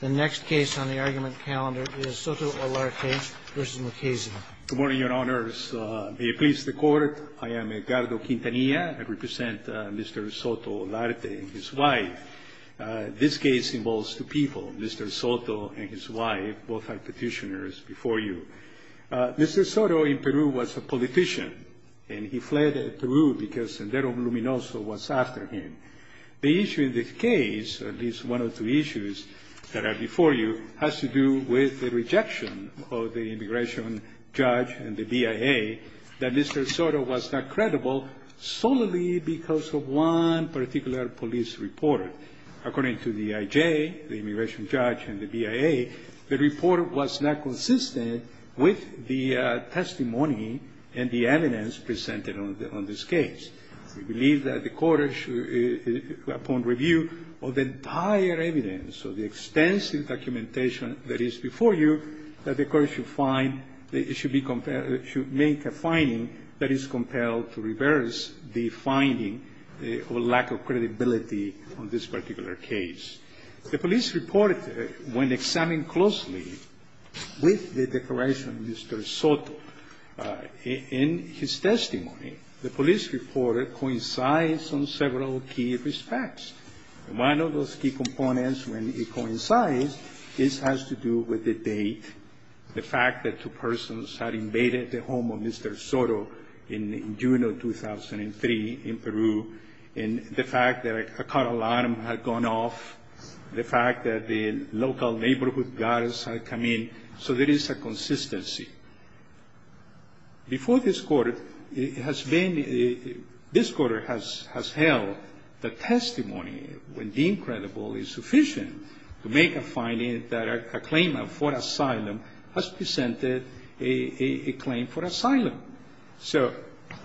The next case on the argument calendar is Soto-Olarte v. Mukasey Good morning, Your Honors. May it please the Court, I am Edgardo Quintanilla. I represent Mr. Soto-Olarte and his wife. This case involves two people, Mr. Soto and his wife. Both are petitioners before you. Mr. Soto in Peru was a politician, and he fled Peru because Sendero Luminoso was after him. The issue in this case, at least one of the issues that are before you, has to do with the rejection of the immigration judge and the BIA that Mr. Soto was not credible solely because of one particular police report. According to the IJ, the immigration judge, and the BIA, the report was not consistent with the testimony and the evidence presented on this case. We believe that the Court should, upon review of the entire evidence, of the extensive documentation that is before you, that the Court should find that it should be compelled to make a finding that is compelled to reverse the finding of a lack of credibility on this particular case. The police report, when examined closely with the declaration of Mr. Soto in his testimony, the police report coincides on several key respects. One of those key components, when it coincides, has to do with the date, the fact that two persons had invaded the home of Mr. Soto in June of 2003 in Peru, and the fact that a car alarm had gone off, the fact that the local neighborhood guards had come in, so there is a consistency. Before this Court, it has been, this Court has held that testimony, when deemed credible, is sufficient to make a finding that a claimant for asylum has presented a claim for asylum. So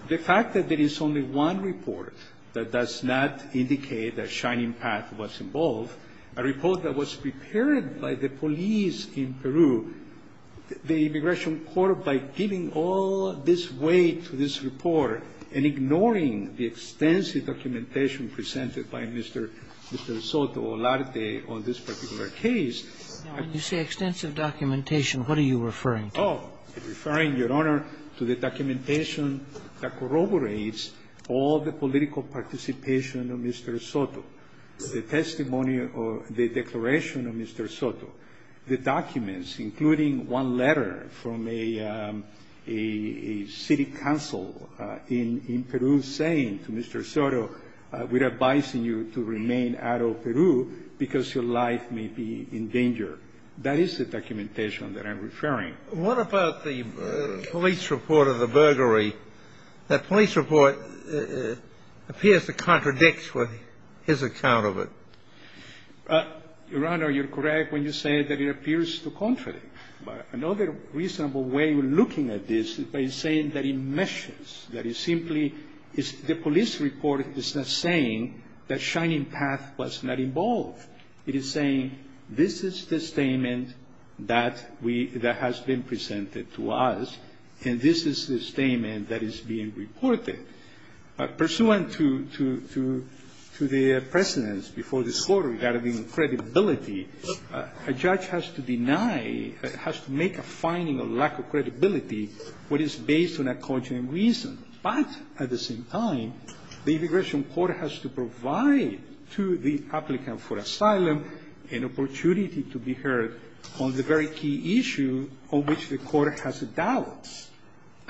the fact that there is only one report that does not indicate that Shining Path was involved, a report that was prepared by the police in Peru, the Immigration Court, by giving all this weight to this report and ignoring the extensive documentation presented by Mr. Soto or Larte on this particular case. And you say extensive documentation. What are you referring to? Oh, referring, Your Honor, to the documentation that corroborates all the political participation of Mr. Soto, the testimony or the declaration of Mr. Soto, the documents including one letter from a city council in Peru saying to Mr. Soto, we're advising you to remain out of Peru because your life may be in danger. That is the documentation that I'm referring. What about the police report of the burglary? That police report appears to contradict with his account of it. Your Honor, you're correct when you say that it appears to contradict. Another reasonable way of looking at this is by saying that it meshes, that it simply is the police report is not saying that Shining Path was not involved. It is saying this is the statement that has been presented to us, and this is the statement that is being reported. Pursuant to the precedence before this Court regarding credibility, a judge has to deny, has to make a finding of lack of credibility, what is based on a conscientious reason. But at the same time, the immigration court has to provide to the applicant for asylum an opportunity to be heard on the very key issue on which the court has a doubt.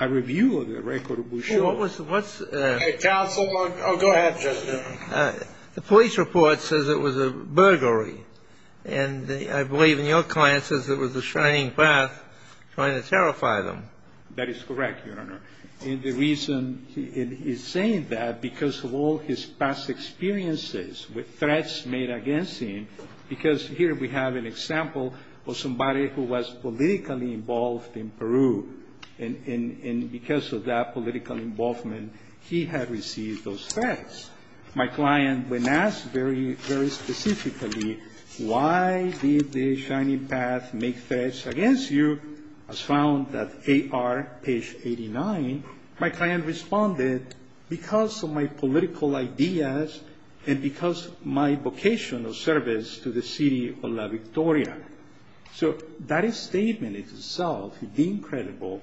A review of the record will show. What's the ---- Counsel, go ahead. The police report says it was a burglary. And I believe in your client says it was the Shining Path trying to terrify them. That is correct, Your Honor. And the reason he is saying that, because of all his past experiences with threats made against him, because here we have an example of somebody who was politically involved in Peru. And because of that political involvement, he had received those threats. My client, when asked very, very specifically, why did the Shining Path make threats against you, has found that AR page 89, my client responded, because of my political ideas and because of my vocational service to the city of La Victoria. So that statement itself, deemed credible,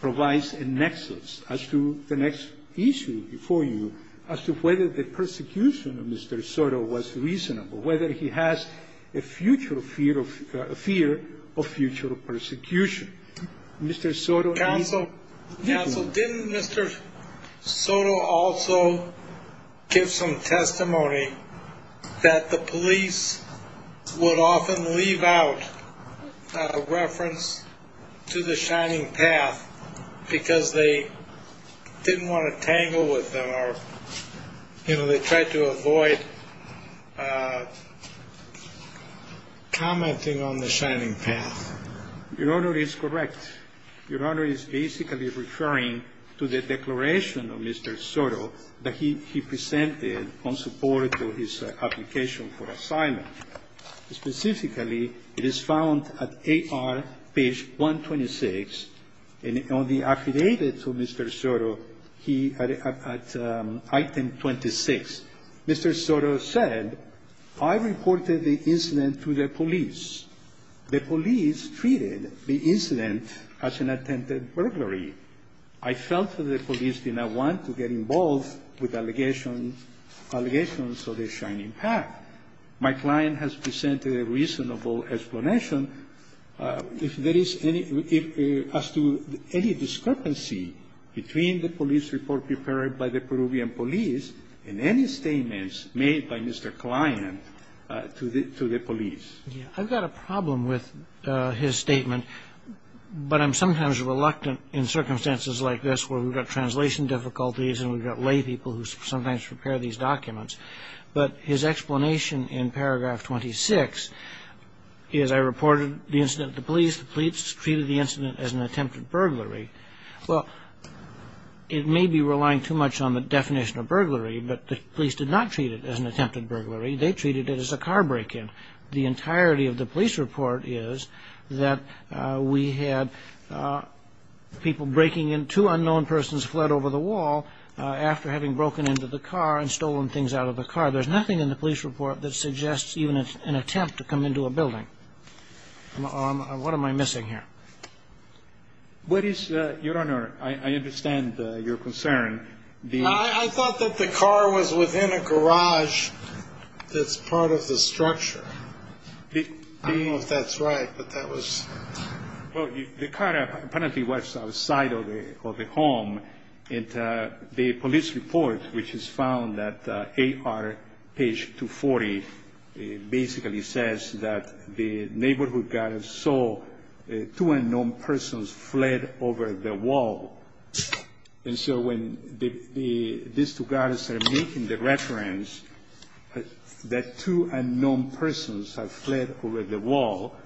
provides a nexus as to the next issue before you, as to whether the persecution of Mr. Soto was reasonable, whether he has a future fear of persecution. Counsel, didn't Mr. Soto also give some testimony that the police would often leave out a reference to the Shining Path because they didn't want to tangle with them or, you know, they tried to avoid commenting on the Shining Path? Your Honor is correct. Your Honor is basically referring to the declaration of Mr. Soto that he presented in support of his application for assignment. Specifically, it is found at AR page 126, and on the affidavit to Mr. Soto, he, at item 26, Mr. Soto said, I reported the incident to the police. The police treated the incident as an attempted burglary. I felt that the police did not want to get involved with allegations of the Shining Path. My client has presented a reasonable explanation. As to any discrepancy between the police report prepared by the Peruvian police and any statements made by Mr. Klein to the police. I've got a problem with his statement, but I'm sometimes reluctant in circumstances like this where we've got translation difficulties and we've got lay people who sometimes prepare these documents. But his explanation in paragraph 26 is I reported the incident to police. The police treated the incident as an attempted burglary. Well, it may be relying too much on the definition of burglary, but the police did not treat it as an attempted burglary. They treated it as a car break-in. The entirety of the police report is that we had people breaking in, two unknown persons fled over the wall after having broken into the car and there's nothing in the police report that suggests even an attempt to come into a building. What am I missing here? Your Honor, I understand your concern. I thought that the car was within a garage that's part of the structure. I don't know if that's right, but that was. Well, the car apparently was outside of the home. The police report, which is found at AR page 240, basically says that the neighborhood guard saw two unknown persons fled over the wall. And so when these two guards are making the reference that two unknown persons have fled over the wall,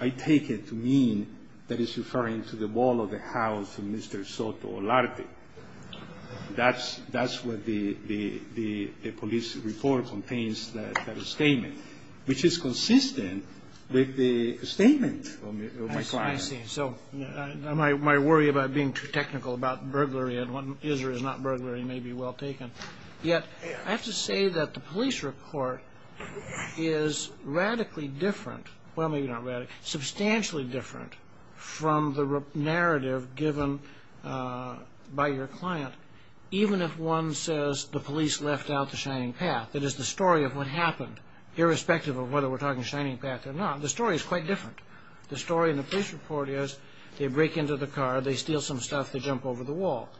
I take it to mean that it's referring to the wall of the house of Mr. Soto Olarte. That's what the police report contains, that statement, which is consistent with the statement of my client. I see. So my worry about being too technical about burglary and what is or is not burglary may be well taken. Yet I have to say that the police report is radically different. Well, maybe not radically. Substantially different from the narrative given by your client. Even if one says the police left out the Shining Path, it is the story of what happened, irrespective of whether we're talking Shining Path or not. The story is quite different. The story in the police report is they break into the car, they steal some stuff, they jump over the wall.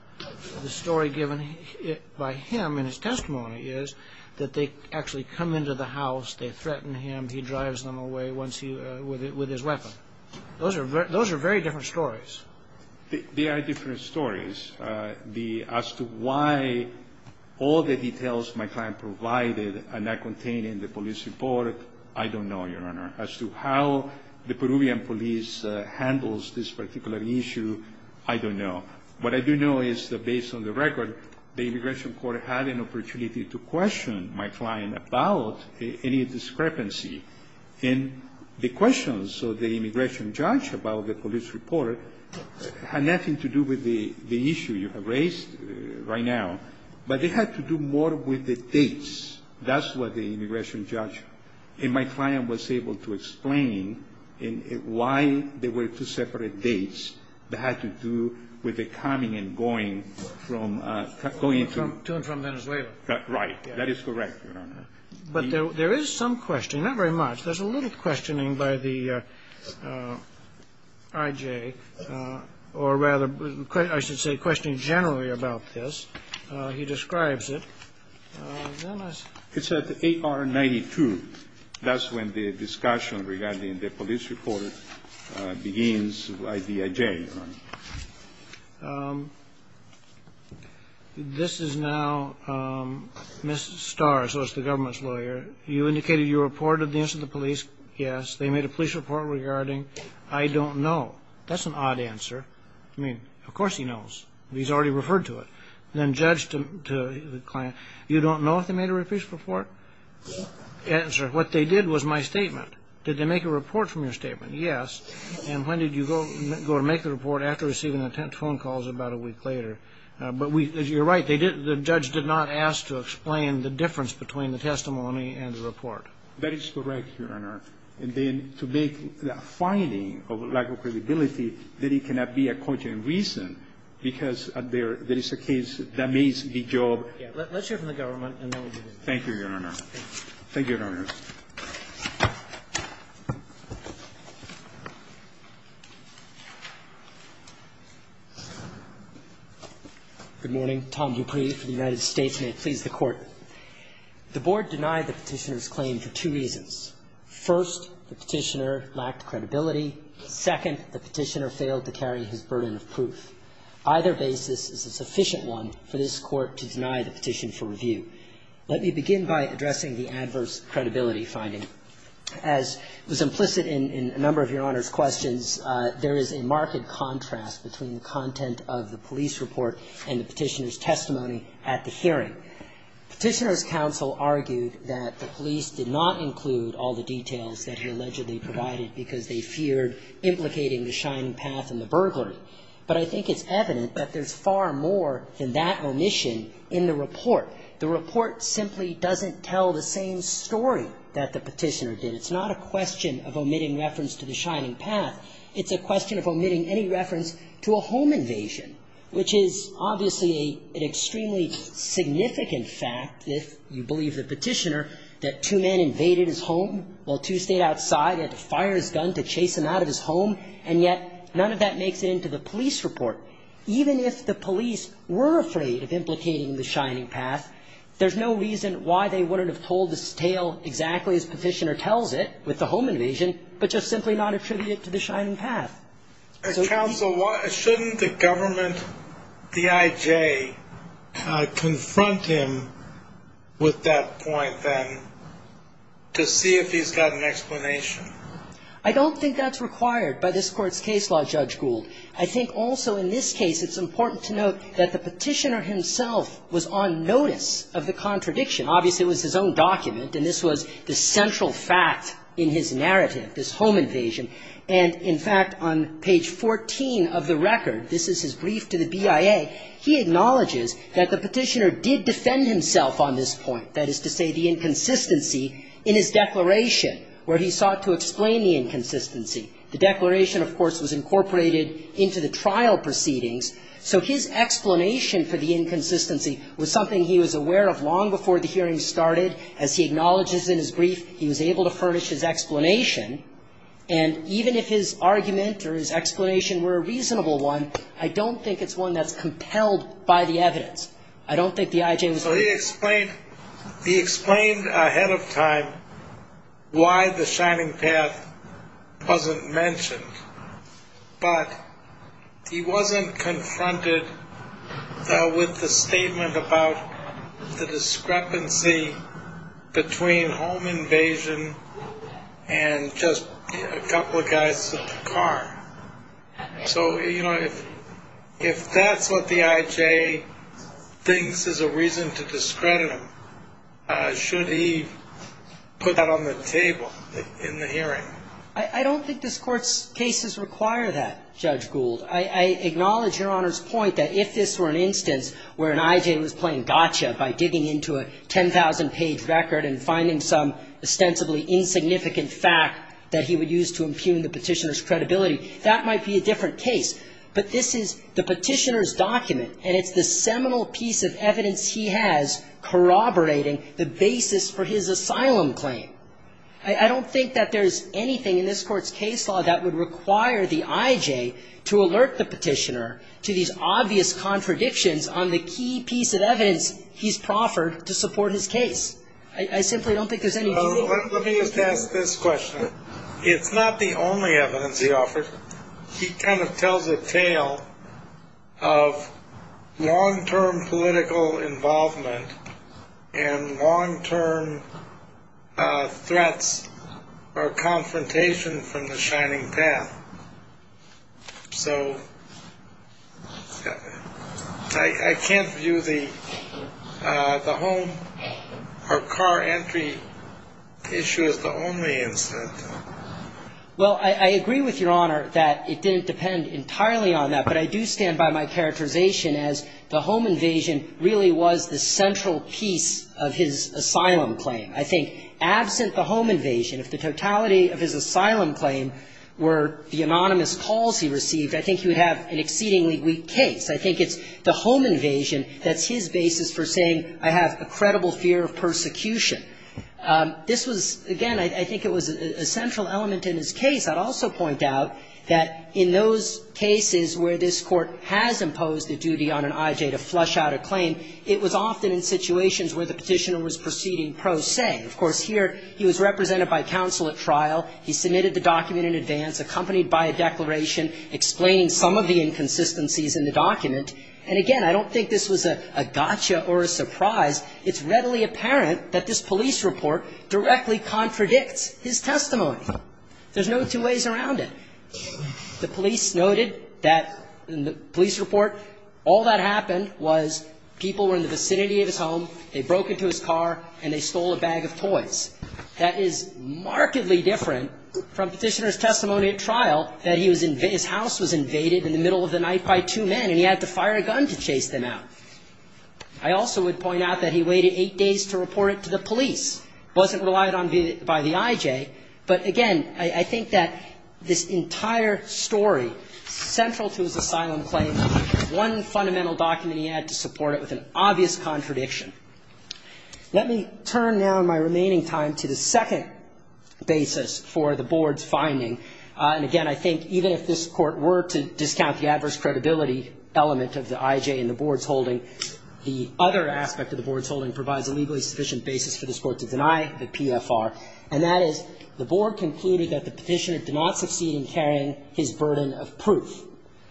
The story given by him in his testimony is that they actually come into the house, they threaten him, he drives them away with his weapon. Those are very different stories. They are different stories. As to why all the details my client provided are not contained in the police report, I don't know, Your Honor. As to how the Peruvian police handles this particular issue, I don't know. What I do know is that based on the record, the immigration court had an opportunity to question my client about any discrepancy. And the questions of the immigration judge about the police report had nothing to do with the issue you have raised right now. But it had to do more with the dates. That's what the immigration judge in my client was able to explain why there were two separate dates that had to do with the coming and going from going to and from Venezuela. Right. That is correct, Your Honor. But there is some question, not very much. There's a little questioning by the IJ, or rather I should say questioning generally about this. He describes it. It's at 8R92. That's when the discussion regarding the police report begins by the IJ, Your Honor. This is now Ms. Starr, so it's the government's lawyer. You indicated you reported the incident to the police. Yes. They made a police report regarding. I don't know. That's an odd answer. I mean, of course he knows. He's already referred to it. Then judged to the client. You don't know if they made a police report? Yes. Answer. What they did was my statement. Did they make a report from your statement? Yes. And when did you go to make the report? After receiving the phone calls about a week later. But you're right. The judge did not ask to explain the difference between the testimony and the report. That is correct, Your Honor. And then to make the finding of lack of credibility that it cannot be a content reason because there is a case that may be job. Let's hear from the government and then we'll get in. Thank you, Your Honor. Thank you, Your Honor. Good morning. Tom Dupree for the United States. May it please the Court. The Board denied the Petitioner's claim for two reasons. First, the Petitioner lacked credibility. Second, the Petitioner failed to carry his burden of proof. Either basis is a sufficient one for this Court to deny the petition for review. Let me begin by addressing the adverse credibility finding. As was implicit in a number of Your Honor's questions, there is a marked contrast between the content of the police report and the Petitioner's testimony at the hearing. The Petitioner's counsel argued that the police did not include all the details that he allegedly provided because they feared implicating the Shining Path in the burglary. But I think it's evident that there's far more than that omission in the report. The report simply doesn't tell the same story that the Petitioner did. It's not a question of omitting reference to the Shining Path. It's a question of omitting any reference to a home invasion, which is obviously an extremely significant fact if you believe the Petitioner, that two men invaded his home while two stayed outside. They had to fire his gun to chase him out of his home, and yet none of that makes it into the police report. Even if the police were afraid of implicating the Shining Path, there's no reason why they wouldn't have told this tale exactly as Petitioner tells it with the home invasion, but just simply not attribute it to the Shining Path. And counsel, shouldn't the government, DIJ, confront him with that point then to see if he's got an explanation? I don't think that's required by this Court's case law, Judge Gould. I think also in this case it's important to note that the Petitioner himself was on notice of the contradiction. Obviously it was his own document, and this was the central fact in his narrative, this home invasion, and in fact on page 14 of the record, this is his brief to the BIA, he acknowledges that the Petitioner did defend himself on this point, that is to say the inconsistency in his declaration, where he sought to explain the inconsistency. The declaration, of course, was incorporated into the trial proceedings, so his explanation for the inconsistency was something he was aware of long before the hearing started. As he acknowledges in his brief, he was able to furnish his explanation, and even if his argument or his explanation were a reasonable one, I don't think it's one that's compelled by the evidence. I don't think the IJ was able to do that. So he explained ahead of time why the Shining Path wasn't mentioned, but he wasn't confronted with the statement about the discrepancy between home invasion and just a couple of guys in the car. So, you know, if that's what the IJ thinks is a reason to discredit him, should he put that on the table in the hearing? I don't think this Court's cases require that, Judge Gould. I acknowledge Your Honor's point that if this were an instance where an IJ was playing gotcha by digging into a 10,000-page record and finding some ostensibly insignificant fact that he would use to impugn the Petitioner's credibility, that might be a different case. But this is the Petitioner's document, and it's the seminal piece of evidence he has corroborating the basis for his asylum claim. I don't think that there's anything in this Court's case law that would require the IJ to alert the Petitioner to these obvious contradictions on the key piece of evidence he's proffered to support his case. I simply don't think there's any. Let me just ask this question. It's not the only evidence he offered. He kind of tells a tale of long-term political involvement and long-term threats or confrontation from the shining path. So I can't view the home or car entry issue as the only instance. Well, I agree with Your Honor that it didn't depend entirely on that. But I do stand by my characterization as the home invasion really was the central piece of his asylum claim. I think absent the home invasion, if the totality of his asylum claim were the anonymous calls he received, I think he would have an exceedingly weak case. I think it's the home invasion that's his basis for saying I have a credible fear of persecution. This was, again, I think it was a central element in his case. I'd also point out that in those cases where this Court has imposed a duty on an IJ to flush out a claim, it was often in situations where the Petitioner was proceeding pro se. Of course, here he was represented by counsel at trial. He submitted the document in advance, accompanied by a declaration explaining some of the inconsistencies in the document. And, again, I don't think this was a gotcha or a surprise. It's readily apparent that this police report directly contradicts his testimony. There's no two ways around it. The police noted that in the police report all that happened was people were in the vicinity of his home, they broke into his car, and they stole a bag of toys. That is markedly different from Petitioner's testimony at trial that he was in his house was invaded in the middle of the night by two men, and he had to fire a gun to chase them out. I also would point out that he waited eight days to report it to the police. It wasn't relied on by the IJ. But, again, I think that this entire story, central to his asylum claim, one fundamental document he had to support it with an obvious contradiction. Let me turn now in my remaining time to the second basis for the Board's finding. And, again, I think even if this Court were to discount the adverse credibility element of the IJ in the Board's holding, the other aspect of the Board's holding provides a legally sufficient basis for this Court to deny the PFR, and that is the Board concluded that the Petitioner did not succeed in carrying his burden of proof.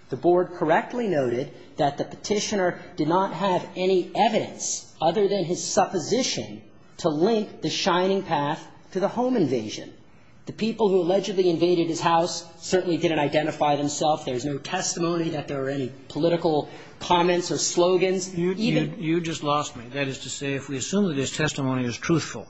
The Board correctly noted that the Petitioner did not have any evidence other than his supposition to link the Shining Path to the home invasion. The people who allegedly invaded his house certainly didn't identify themselves. There was no testimony that there were any political comments or slogans, even. You just lost me. That is to say, if we assume that his testimony is truthful,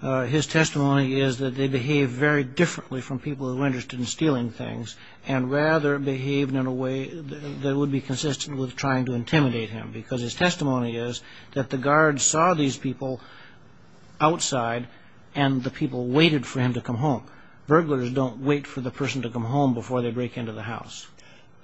his testimony is that they behaved very differently from people who were interested in stealing things, and rather behaved in a way that would be consistent with trying to intimidate him, because his testimony is that the guards saw these people outside and the people waited for him to come home. So burglars don't wait for the person to come home before they break into the house?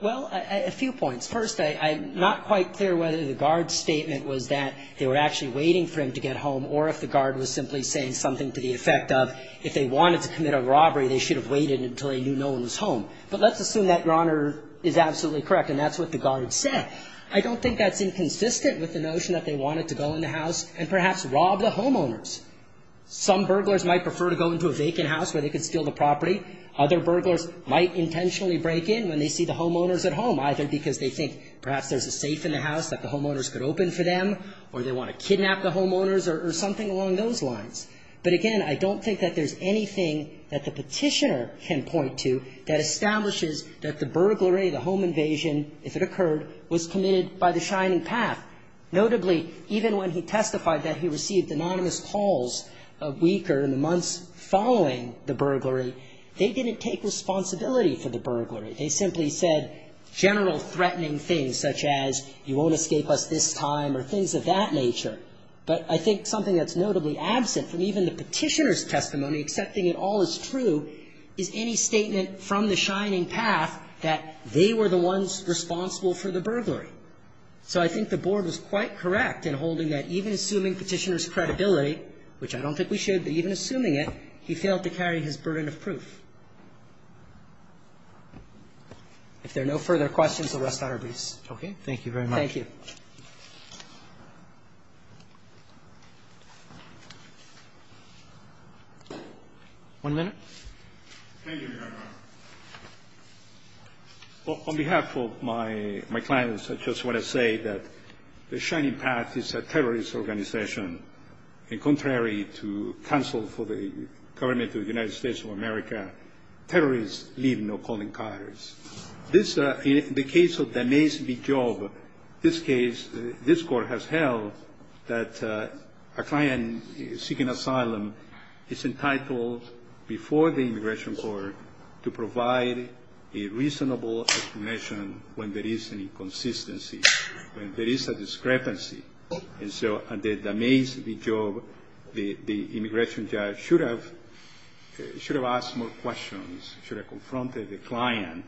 Well, a few points. First, I'm not quite clear whether the guard's statement was that they were actually waiting for him to get home, or if the guard was simply saying something to the effect of if they wanted to commit a robbery, they should have waited until they knew no one was home. But let's assume that, Your Honor, is absolutely correct, and that's what the guard said. I don't think that's inconsistent with the notion that they wanted to go in the house and perhaps rob the homeowners. Some burglars might prefer to go into a vacant house where they could steal the property. Other burglars might intentionally break in when they see the homeowners at home, either because they think perhaps there's a safe in the house that the homeowners could open for them, or they want to kidnap the homeowners, or something along those lines. But again, I don't think that there's anything that the Petitioner can point to that establishes that the burglary, the home invasion, if it occurred, was committed by the Shining Path. Notably, even when he testified that he received anonymous calls a week or in the months following the burglary, they didn't take responsibility for the burglary. They simply said general threatening things, such as you won't escape us this time or things of that nature. But I think something that's notably absent from even the Petitioner's testimony, accepting it all as true, is any statement from the Shining Path that they were the ones responsible for the burglary. So I think the Board was quite correct in holding that even assuming Petitioner's credibility, which I don't think we should, but even assuming it, he failed to carry his burden of proof. If there are no further questions, the rest are abeast. Okay. Thank you very much. One minute. Thank you, Your Honor. Well, on behalf of my clients, I just want to say that the Shining Path is a terrorist organization. And contrary to counsel for the government of the United States of America, terrorists leave no calling cards. In the case of Danez B. Job, this case, this court has held that a client seeking immigration court to provide a reasonable explanation when there is an inconsistency, when there is a discrepancy. And so Danez B. Job, the immigration judge, should have asked more questions, should have confronted the client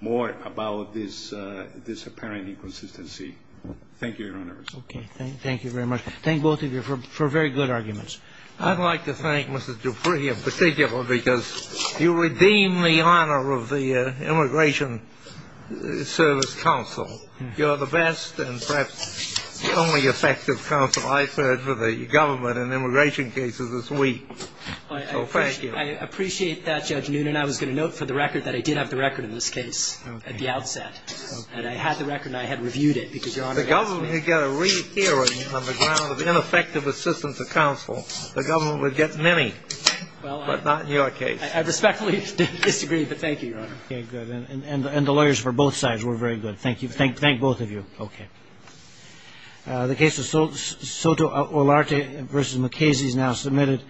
more about this apparent inconsistency. Thank you, Your Honor. Okay. Thank you very much. Thank both of you for very good arguments. I'd like to thank Mrs. Dupree in particular because you redeemed the honor of the Immigration Service Counsel. You're the best and perhaps the only effective counsel I've heard for the government in immigration cases this week. So thank you. I appreciate that, Judge Noonan. I was going to note for the record that I did have the record in this case at the outset. Okay. And I had the record and I had reviewed it because Your Honor asked me. If the government could get a re-hearing on the ground of ineffective assistance of counsel, the government would get many, but not in your case. I respectfully disagree, but thank you, Your Honor. Okay, good. And the lawyers for both sides were very good. Thank you. Thank both of you. Okay. The case of Soto Olarte v. McKasey is now submitted.